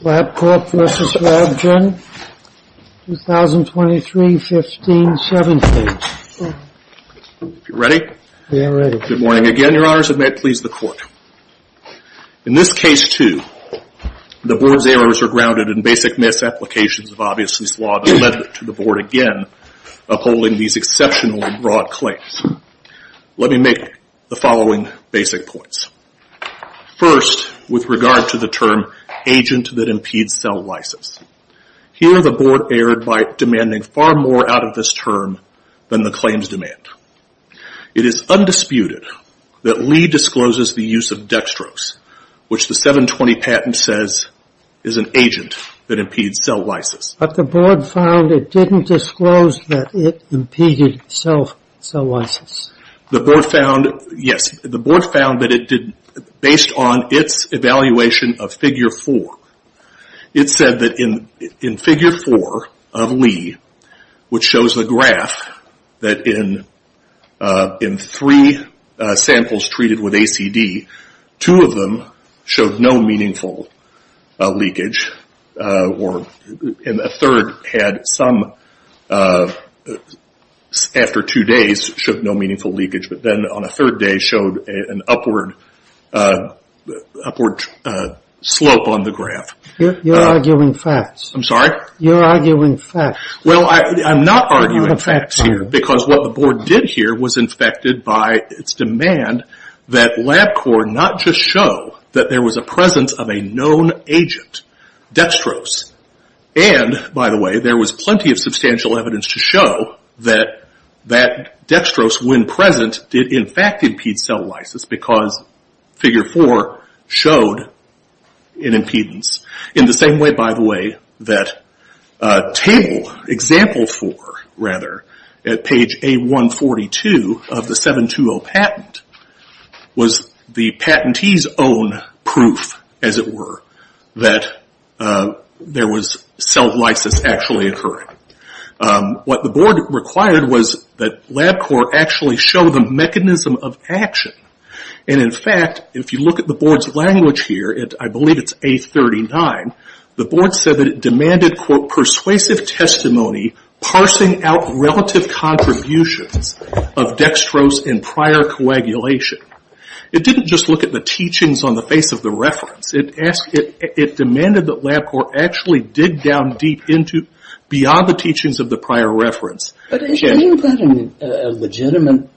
LabCorp v. Ravgen, 2023-15-17. If you're ready, good morning again, your honors, and may it please the court. In this case, too, the board's errors are grounded in basic misapplications of obvious mislawed amendment to the board, again, upholding these exceptionally broad claims. Let me make the following basic points. First, with regard to the term, agent that impedes cell license. Here, the board erred by demanding far more out of this term than the claims demand. It is undisputed that Lee discloses the use of dextrose, which the 720 patent says is an agent that impedes cell license. But the board found it didn't disclose that it impeded cell license. The board found that it did, based on its evaluation of figure four, it said that in figure four of Lee, which shows the graph, that in three samples treated with ACD, two of them showed no meaningful leakage. Or in a third had some, after two days, showed no meaningful leakage, but then on a third day showed an upward slope on the graph. You're arguing facts. I'm sorry? You're arguing facts. Well, I'm not arguing facts here. Because what the board did here was infected by its demand that LabCorp not just show that there was a presence of a known agent, dextrose, and, by the way, there was plenty of substantial evidence to show that dextrose, when present, did in fact impede cell license because figure four showed an impedance. In the same way, by the way, that table, example four, rather, at page A142 of the 720 patent was the patentee's own proof, as it were, that there was cell license actually occurring. What the board required was that LabCorp actually show the mechanism of action. In fact, if you look at the board's language here, I believe it's A39, the board said that it demanded, quote, persuasive testimony, parsing out relative contributions of dextrose in prior coagulation. It didn't just look at the teachings on the face of the reference. It demanded that LabCorp actually dig down deep into, beyond the teachings of the prior reference. But isn't that a legitimate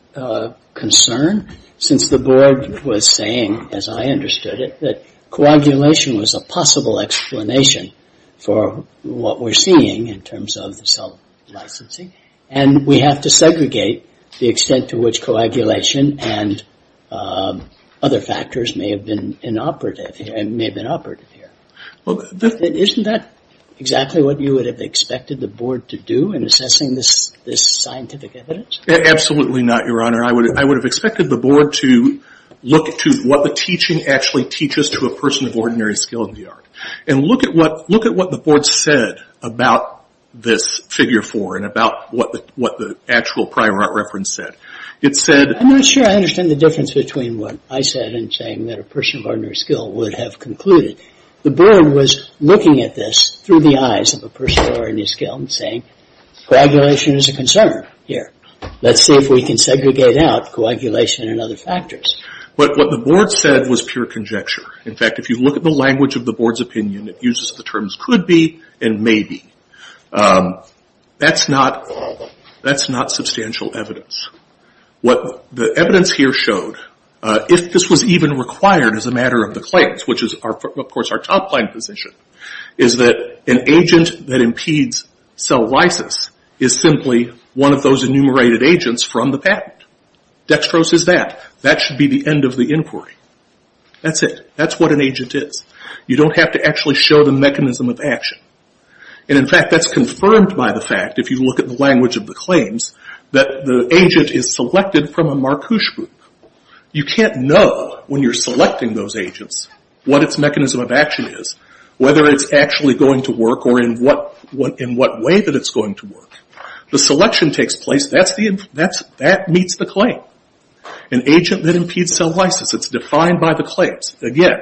concern, since the board was saying, as I understood it, that coagulation was a possible explanation for what we're seeing in terms of the cell licensing, and we have to segregate the extent to which coagulation and other factors may have been inoperative and may have been operative here? Isn't that exactly what you would have expected the board to do in assessing this scientific evidence? Absolutely not, Your Honor. I would have expected the board to look to what the teaching actually teaches to a person of ordinary skill in the art. And look at what the board said about this figure four and about what the actual prior art reference said. It said- I'm not sure I understand the difference between what I said and saying that a person of ordinary skill would have concluded. The board was looking at this through the eyes of a person of ordinary skill and saying, coagulation is a concern here. Let's see if we can segregate out coagulation and other factors. What the board said was pure conjecture. In fact, if you look at the language of the board's opinion, it uses the terms could be and may be. That's not substantial evidence. What the evidence here showed, if this was even required as a matter of the claims, which is of course our top line position, is that an agent that impedes cell lysis is simply one of those enumerated agents from the patent. Dextrose is that. That should be the end of the inquiry. That's it. That's what an agent is. You don't have to actually show the mechanism of action. In fact, that's confirmed by the fact, if you look at the language of the claims, that the agent is selected from a Marcouche group. You can't know when you're selecting those agents what its mechanism of action is, whether it's actually going to work or in what way that it's going to work. The selection takes place. That meets the claim. An agent that impedes cell lysis. It's defined by the claims. Again,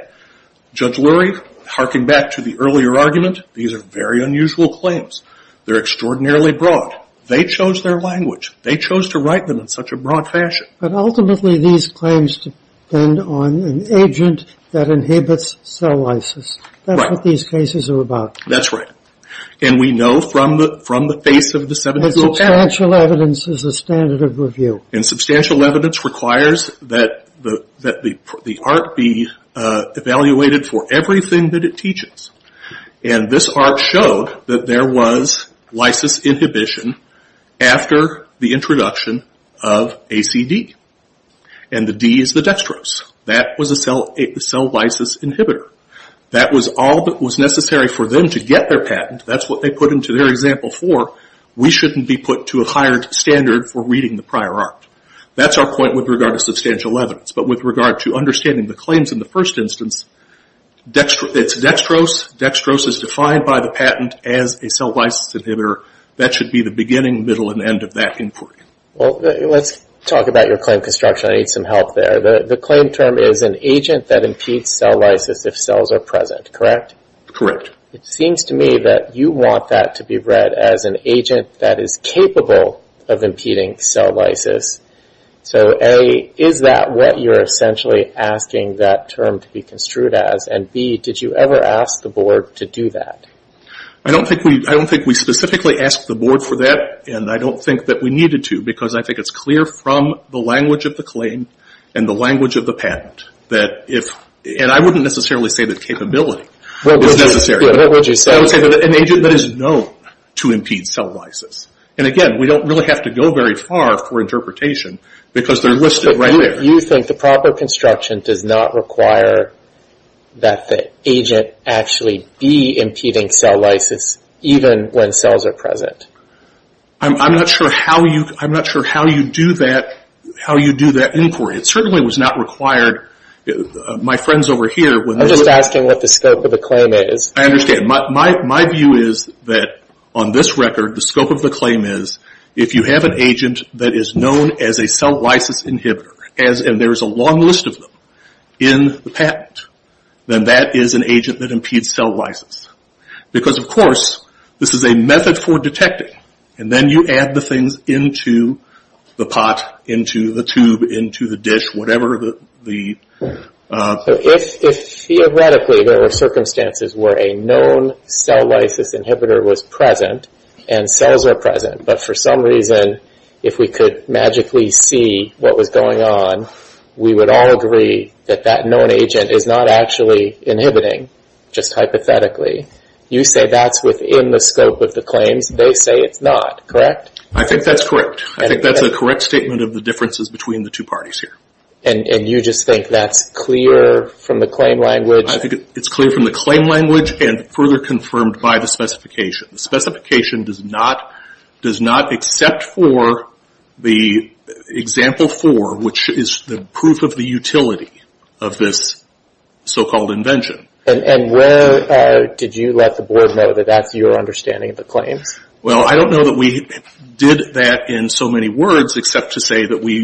Judge Lurie, harking back to the earlier argument, these are very unusual claims. They're extraordinarily broad. They chose their language. They chose to write them in such a broad fashion. But ultimately, these claims depend on an agent that inhibits cell lysis. That's what these cases are about. That's right. And we know from the face of the 70-year-old patent. Substantial evidence is a standard of review. Substantial evidence requires that the art be evaluated for everything that it teaches. This art showed that there was lysis inhibition after the introduction of ACD. The D is the dextrose. That was a cell lysis inhibitor. That was all that was necessary for them to get their patent. That's what they put into their example four. We shouldn't be put to a higher standard for reading the prior art. That's our point with regard to substantial evidence. But with regard to understanding the claims in the first instance, it's dextrose. Dextrose is defined by the patent as a cell lysis inhibitor. That should be the beginning, middle, and end of that inquiry. Well, let's talk about your claim construction. I need some help there. The claim term is an agent that impedes cell lysis if cells are present, correct? Correct. It seems to me that you want that to be read as an agent that is capable of impeding cell lysis. So A, is that what you're essentially asking that term to be construed as? And B, did you ever ask the board to do that? I don't think we specifically asked the board for that, and I don't think that we needed to because I think it's clear from the language of the claim and the language of the patent that if, and I wouldn't necessarily say that capability is necessary. What would you say? I would say that an agent that is known to impede cell lysis. And again, we don't really have to go very far for interpretation because they're listed right there. You think the proper construction does not require that the agent actually be impeding cell lysis even when cells are present? I'm not sure how you do that inquiry. It certainly was not required. My friends over here. I'm just asking what the scope of the claim is. I understand. My view is that on this record, the scope of the claim is if you have an agent that is known as a cell lysis inhibitor, and there's a long list of them in the patent, then that is an agent that impedes cell lysis. Because of course, this is a method for detecting. And then you add the things into the pot, into the tube, into the dish, whatever the... If theoretically there were circumstances where a known cell lysis inhibitor was present and cells are present, but for some reason, if we could magically see what was going on, we would all agree that that known agent is not actually inhibiting, just hypothetically. You say that's within the scope of the claims. They say it's not, correct? I think that's correct. I think that's a correct statement of the differences between the two parties here. And you just think that's clear from the claim language? I think it's clear from the claim language and further confirmed by the specification. The specification does not accept for the example four, which is the proof of the utility of this so-called invention. And where did you let the board know that that's your understanding of the claims? Well, I don't know that we did that in so many words except to say that we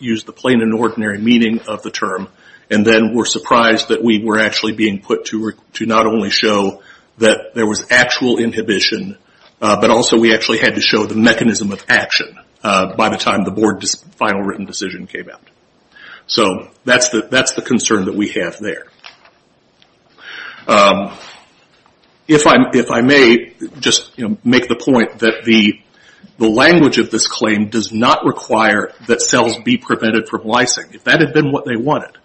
used the plain and ordinary meaning of the term and then were surprised that we were actually being put to not only show that there was actual inhibition, but also we actually had to show the mechanism of action by the time the board's final written decision came out. So that's the concern that we have there. If I may just make the point that the language of this claim does not require that cells be prevented from lysing. If that had been what they wanted,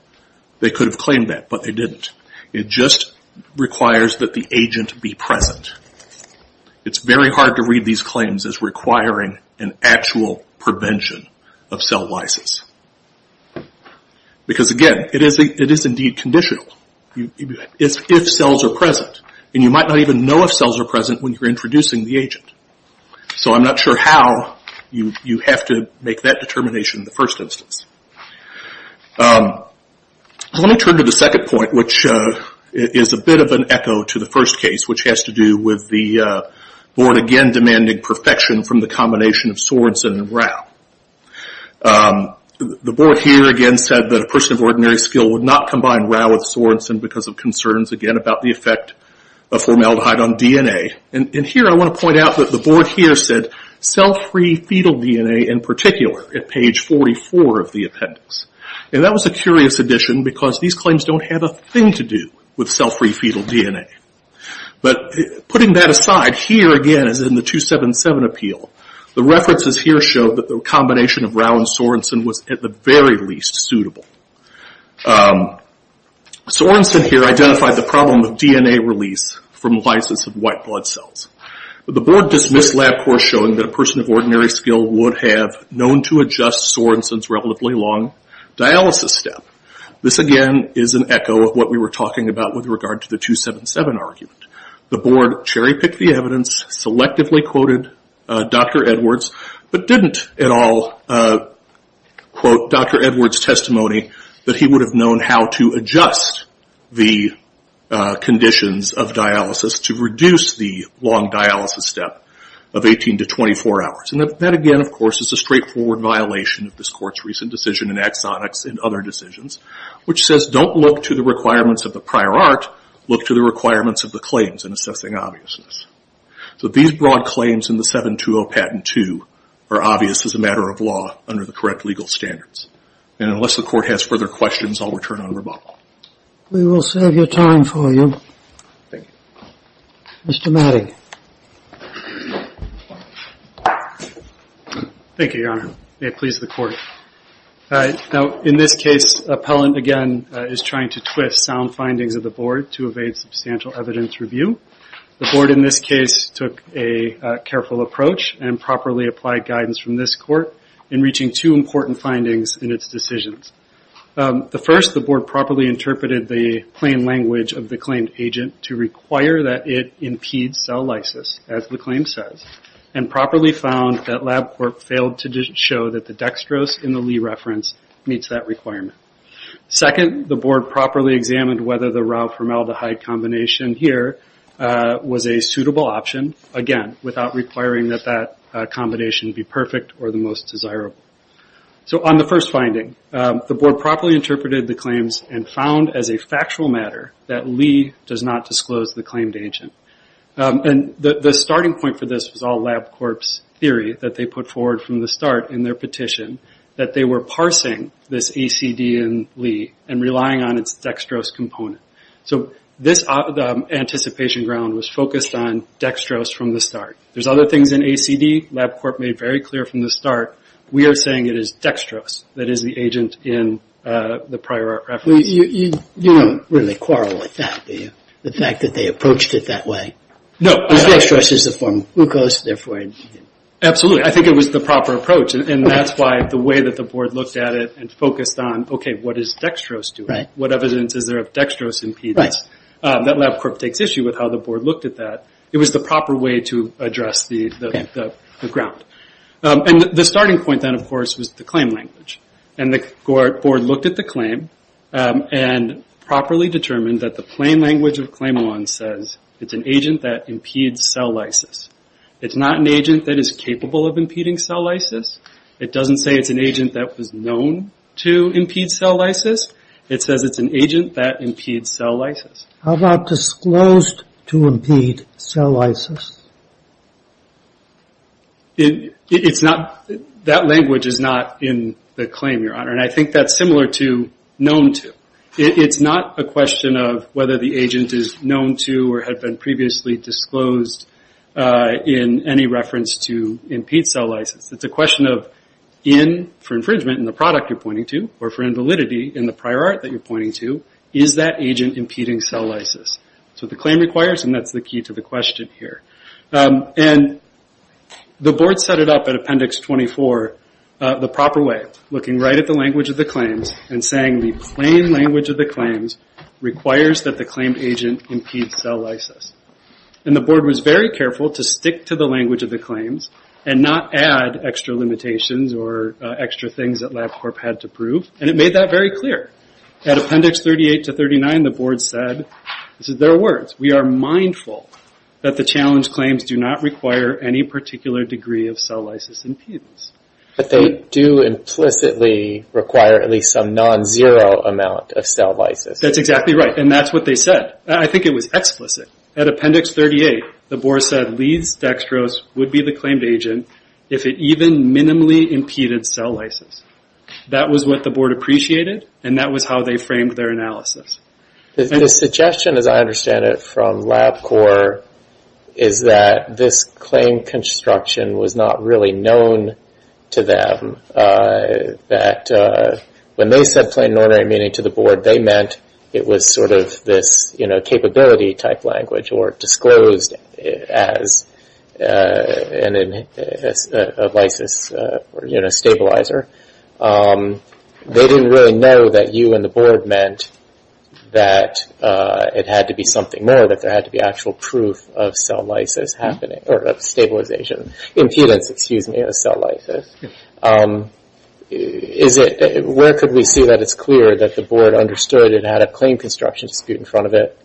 they could have claimed that, but they didn't. It just requires that the agent be present. It's very hard to read these claims as requiring an actual prevention of cell lysis. Because again, it is indeed conditional. It's if cells are present and you might not even know if cells are present when you're introducing the agent. So I'm not sure how you have to make that determination in the first instance. Let me turn to the second point, which is a bit of an echo to the first case, which has to do with the board again demanding perfection from the combination of Sorensen and Rau. The board here again said that a person of ordinary skill would not combine Rau with Sorensen because of concerns again about the effect of formaldehyde on DNA. Here I want to point out that the board here said cell-free fetal DNA in particular at page 44 of the appendix. That was a curious addition because these claims don't have a thing to do with cell-free fetal DNA. But putting that aside, here again as in the 277 appeal, the references here show that the combination of Rau and Sorensen was at the very least suitable. Sorensen here identified the problem of DNA release from lysis of white blood cells. The board dismissed LabCorp showing that a person of ordinary skill would have known to adjust Sorensen's relatively long dialysis step. This again is an echo of what we were talking about with regard to the 277 argument. The board cherry-picked the evidence, selectively quoted Dr. Edwards, but didn't at all quote Dr. Edwards' testimony that he would have known how to adjust the conditions of dialysis to reduce the long dialysis step of 18 to 24 hours. That again of course is a straightforward violation of this court's recent decision in exonics and other decisions, which says don't look to the requirements of the prior art, look to the requirements of the claims in assessing obviousness. So these broad claims in the 720 Patent 2 are obvious as a matter of law under the correct legal standards. And unless the court has further questions, I'll return on rebuttal. We will save your time for you. Thank you. Mr. Matting. Thank you, Your Honor. May it please the court. In this case, Appellant again is trying to twist sound findings of the board to evade substantial evidence review. The board in this case took a careful approach and properly applied guidance from this court in reaching two important findings in its decisions. The first, the board properly interpreted the plain language of the claimed agent to require that it impede cell lysis, as the claim says, and properly found that LabCorp failed to show that the dextrose in the Lee reference meets that requirement. Second, the board properly examined whether the Ralph Rommel-DeHuy combination here was a suitable option, again, without requiring that that combination be perfect or the most desirable. So on the first finding, the board properly interpreted the claims and found as a factual matter that Lee does not disclose the claimed agent. The starting point for this was all LabCorp's theory that they put forward from the start in their petition that they were parsing this ACD in Lee and relying on its dextrose component. So this anticipation ground was focused on dextrose from the start. There's other things in ACD LabCorp made very clear from the start. We are saying it is dextrose that is the agent in the prior reference. You don't really quarrel with that, do you? The fact that they approached it that way. Dextrose is a form of glucose, therefore... Absolutely. I think it was the proper approach. And that's why the way that the board looked at it and focused on, okay, what is dextrose doing? What evidence is there of dextrose impedance? That LabCorp takes issue with how the board looked at that. It was the proper way to address the ground. And the starting point then, of course, was the claim language. And the board looked at the claim and properly determined that the plain language of claim law says it's an agent that impedes cell lysis. It's not an agent that is capable of impeding cell lysis. It doesn't say it's an agent that was known to impede cell lysis. It says it's an agent that impedes cell lysis. How about disclosed to impede cell lysis? It's not... That language is not in the claim, Your Honor. And I think that's similar to known to. It's not a question of whether the agent is known to or had been previously disclosed in any reference to impede cell lysis. It's a question of in, for infringement in the product you're pointing to, or for invalidity in the prior art that you're pointing to, is that agent impeding cell lysis? So the claim requires, and that's the key to the question here. And the board set it up at Appendix 24 the proper way, looking right at the language of the claims and saying the plain language of the claims requires that the claimed agent impedes cell lysis. And the board was very careful to stick to the language of the claims and not add extra limitations or extra things that LabCorp had to prove, and it made that very clear. At Appendix 38 to 39, the board said, this is their words, we are mindful that the challenge claims do not require any particular degree of cell lysis impedance. But they do implicitly require at least some non-zero amount of cell lysis. That's exactly right. And that's what they said. I think it was explicit. At Appendix 38, the board said Leeds Dextrose would be the claimed agent if it even minimally impeded cell lysis. That was what the board appreciated, and that was how they framed their analysis. The suggestion, as I understand it, from LabCorp is that this claim construction was not really known to them, that when they said plain and ordinary meaning to the board, they meant it was sort of this, you know, capability type language or disclosed as a lysis stabilizer. They didn't really know that you and the board meant that it had to be something more, that there had to be actual proof of cell lysis happening, or of stabilization, impedance, excuse me, of cell lysis. Where could we see that it's clear that the board understood it had a claim construction dispute in front of it,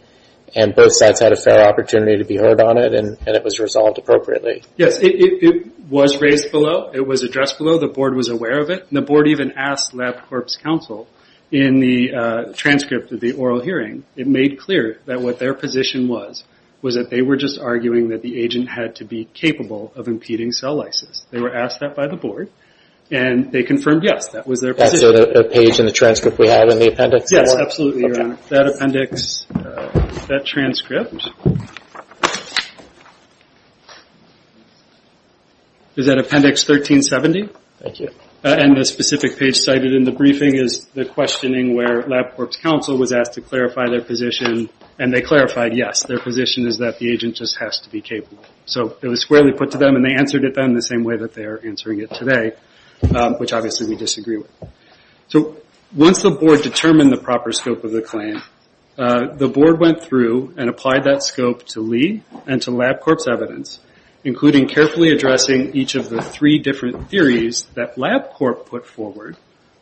and both sides had a fair opportunity to be heard on it, and it was resolved appropriately? It was raised below. It was addressed below. The board was aware of it. And the board even asked LabCorp's counsel in the transcript of the oral hearing, it made clear that what their position was, was that they were just arguing that the agent had to be capable of impeding cell lysis. They were asked that by the board, and they confirmed, yes, that was their position. That's the page in the transcript we have in the appendix? Yes, absolutely, your honor. That appendix, that transcript, is that appendix 1370? Thank you. And the specific page cited in the briefing is the questioning where LabCorp's counsel was asked to clarify their position, and they clarified, yes, their position is that the agent just has to be capable. So it was squarely put to them, and they answered it then the same way that they are answering it today, which obviously we disagree with. So once the board determined the proper scope of the claim, the board went through and applied that scope to Lee and to LabCorp's evidence, including carefully addressing each of the three different theories that LabCorp put forward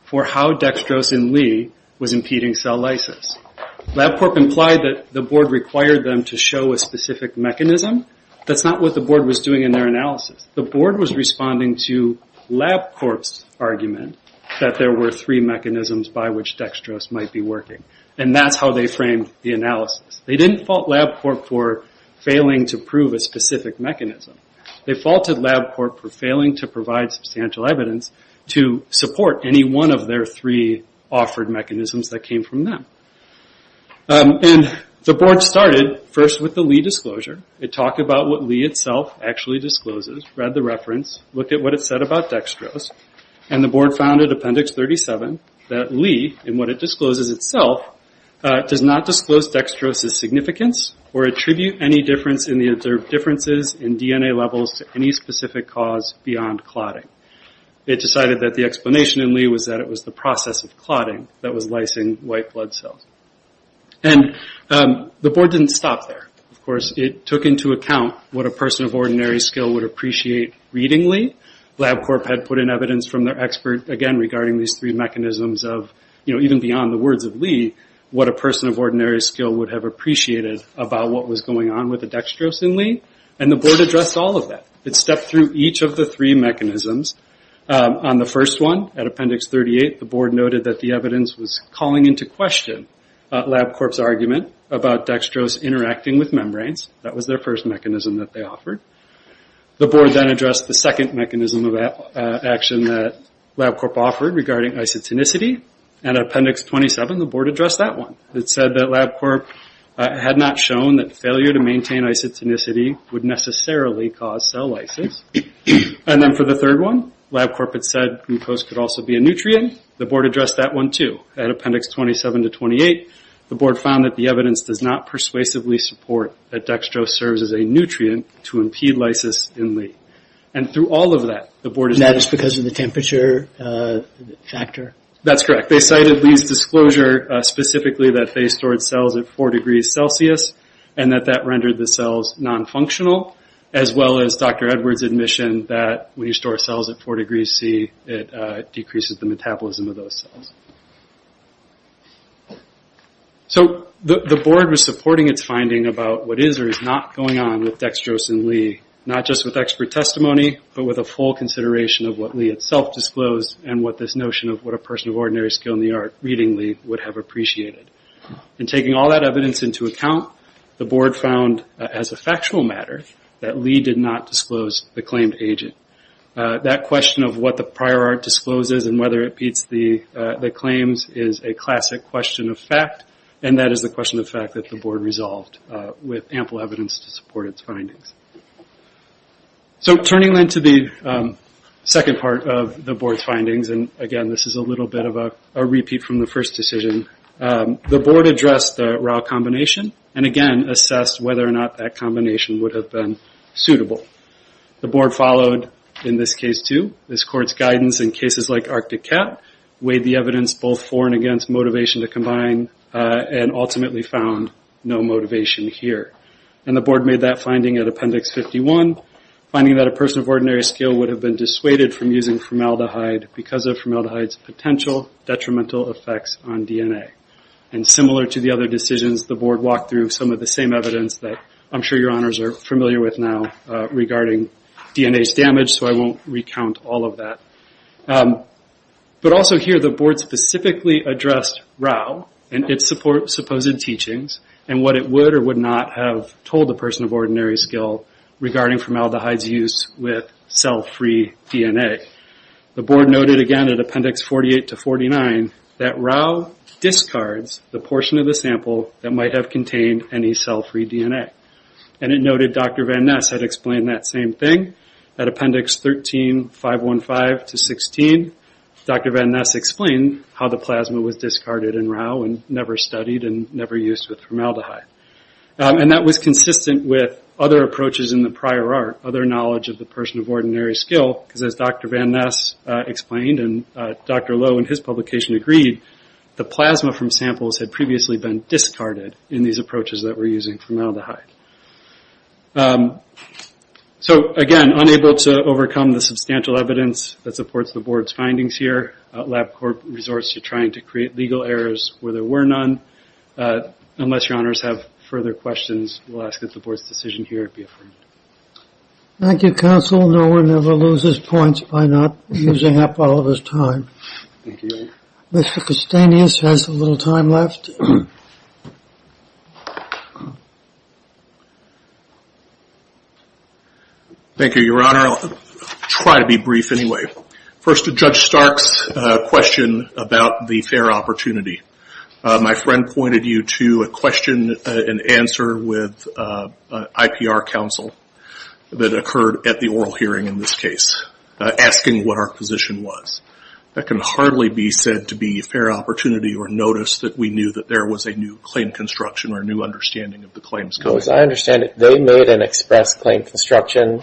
for how dextrose in Lee was impeding cell lysis. LabCorp implied that the board required them to show a specific mechanism. That's not what the board was doing in their analysis. The board was responding to LabCorp's argument that there were three mechanisms by which dextrose might be working, and that's how they framed the analysis. They didn't fault LabCorp for failing to prove a specific mechanism. They faulted LabCorp for failing to provide substantial evidence to support any one of their three offered mechanisms that came from them. The board started first with the Lee disclosure. It talked about what Lee itself actually discloses, read the reference, looked at what it said about dextrose, and the board found in Appendix 37 that Lee, in what it discloses itself, does not disclose dextrose's significance or attribute any difference in the observed differences in DNA levels to any specific cause beyond clotting. It decided that the explanation in Lee was that it was the process of clotting that was lysing white blood cells. The board didn't stop there. Of course, it took into account what a person of ordinary skill would appreciate reading Lee. LabCorp had put in evidence from their expert, again, regarding these three mechanisms of, even beyond the words of Lee, what a person of ordinary skill would have appreciated about what was going on with the dextrose in Lee, and the board addressed all of that. It stepped through each of the three mechanisms. On the first one, at Appendix 38, the board noted that the evidence was calling into question LabCorp's argument about dextrose interacting with membranes. That was their first mechanism that they offered. The board then addressed the second mechanism of action that LabCorp offered regarding isotonicity. At Appendix 27, the board addressed that one. It said that LabCorp had not shown that failure to maintain isotonicity would necessarily cause cell lysis. Then, for the third one, LabCorp had said glucose could also be a nutrient. The board addressed that one, too. At Appendix 27 to 28, the board found that the evidence does not persuasively support that dextrose serves as a nutrient to impede lysis in Lee. Through all of that, the board... That is because of the temperature factor? That's correct. They cited Lee's disclosure, specifically, that they stored cells at four degrees Celsius, and that that rendered the cells non-functional, as well as Dr. Edwards' admission that when you store cells at four degrees C, it decreases the metabolism of those cells. The board was supporting its finding about what is or is not going on with dextrose in Lee, not just with expert testimony, but with a full consideration of what Lee itself disclosed, and what this notion of what a person of ordinary skill in the art, reading Lee, would have appreciated. Taking all that evidence into account, the board found, as a factual matter, that Lee did not disclose the claimed agent. That question of what the prior art discloses and whether it beats the claims is a classic question of fact, and that is the question of fact that the board resolved with ample evidence to support its findings. Turning then to the second part of the board's findings, and again, this is a little bit of a repeat from the first decision, the board addressed the Rao combination, and again, assessed whether or not that combination would have been suitable. The board followed, in this case too, this court's guidance in cases like Arctic Cat, weighed the evidence both for and against motivation to combine, and ultimately found no motivation here. The board made that finding at Appendix 51, finding that a person of ordinary skill would have been dissuaded from using formaldehyde because of formaldehyde's potential detrimental effects on DNA. Similar to the other decisions, the board walked through some of the same evidence that I'm sure your honors are familiar with now regarding DNA's damage, so I won't recount all of that. Also here, the board specifically addressed Rao and its supposed teachings, and what it would or would not have told a person of ordinary skill regarding formaldehyde's use with cell free DNA. The board noted, again, at Appendix 48 to 49, that Rao discards the portion of the sample that might have contained any cell free DNA. It noted Dr. Van Ness had explained that same thing at Appendix 13, 515 to 16. Dr. Van Ness explained how the plasma was discarded in Rao and never studied and never used with formaldehyde. That was consistent with other approaches in the prior art, other knowledge of the person of ordinary skill, because as Dr. Van Ness explained and Dr. Lowe in his publication agreed, the plasma from samples had previously been discarded in these approaches that were using formaldehyde. Again, unable to overcome the substantial evidence that supports the board's findings here, LabCorp resorts to trying to create legal errors where there were none. Unless your honors have further questions, we'll ask that the board's decision here be affirmed. Thank you, counsel. No one ever loses points by not using up all of his time. Thank you. Mr. Castanius has a little time left. Thank you, your honor. I'll try to be brief anyway. First, Judge Stark's question about the fair opportunity. My friend pointed you to a question and answer with IPR counsel that occurred at the oral hearing in this case, asking what our position was. That can hardly be said to be fair opportunity or notice that we knew that there was a new claim construction or a new understanding of the claims. As I understand it, they made an express claim construction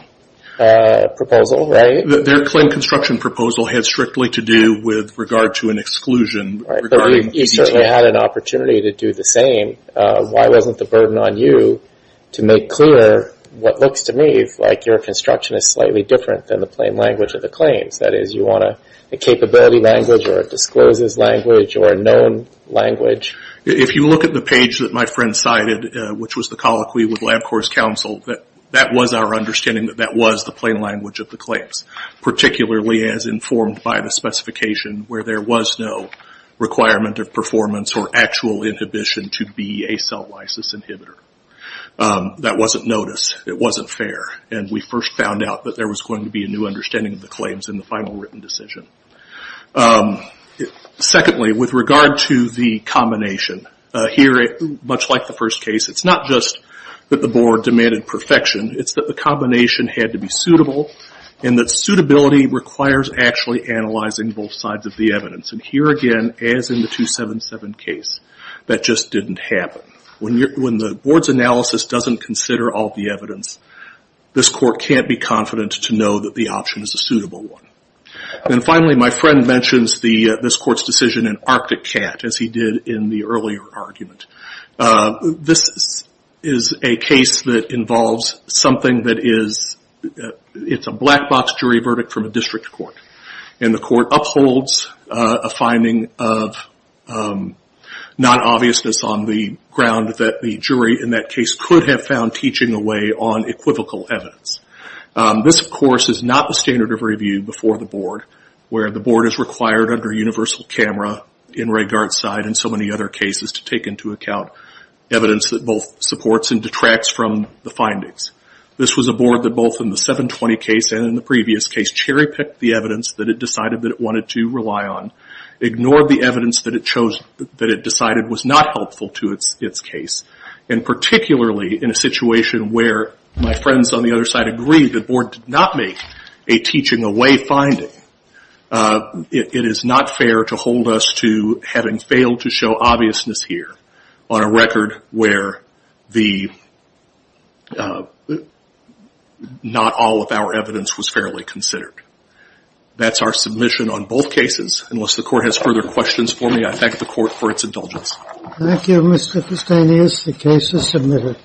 proposal, right? Their claim construction proposal had strictly to do with regard to an exclusion. You certainly had an opportunity to do the same. Why wasn't the burden on you to make clear what looks to me like your construction is slightly different than the plain language of the claims? That is, you want a capability language or a disclosed language or a known language? If you look at the page that my friend cited, which was the colloquy with LabCorp's counsel, that was our understanding that that was the plain language of the claims, particularly as informed by the specification where there was no requirement of performance or actual inhibition to be a cell lysis inhibitor. That wasn't noticed. It wasn't fair. We first found out that there was going to be a new understanding of the claims in the final written decision. Secondly, with regard to the combination, here, much like the first case, it's not just that the board demanded perfection. It's that the combination had to be suitable and that suitability requires actually analyzing both sides of the evidence. Here again, as in the 277 case, that just didn't happen. When the board's analysis doesn't consider all the evidence, this court can't be confident to know that the option is a suitable one. Finally, my friend mentions this court's decision in Arctic Cat, as he did in the earlier argument. This is a case that involves something that is a black box jury verdict from a district court. The court upholds a finding of non-obviousness on the ground that the jury in that case could have found teaching away on equivocal evidence. This, of course, is not the standard of review before the board, where the board is going to count evidence that both supports and detracts from the findings. This was a board that both in the 720 case and in the previous case cherry-picked the evidence that it decided that it wanted to rely on, ignored the evidence that it decided was not helpful to its case, and particularly in a situation where my friends on the other side agree the board did not make a teaching away finding. It is not fair to hold us to having failed to show obviousness here on a record where not all of our evidence was fairly considered. That's our submission on both cases. Unless the court has further questions for me, I thank the court for its indulgence. Thank you, Mr. Fustanius. The case is submitted.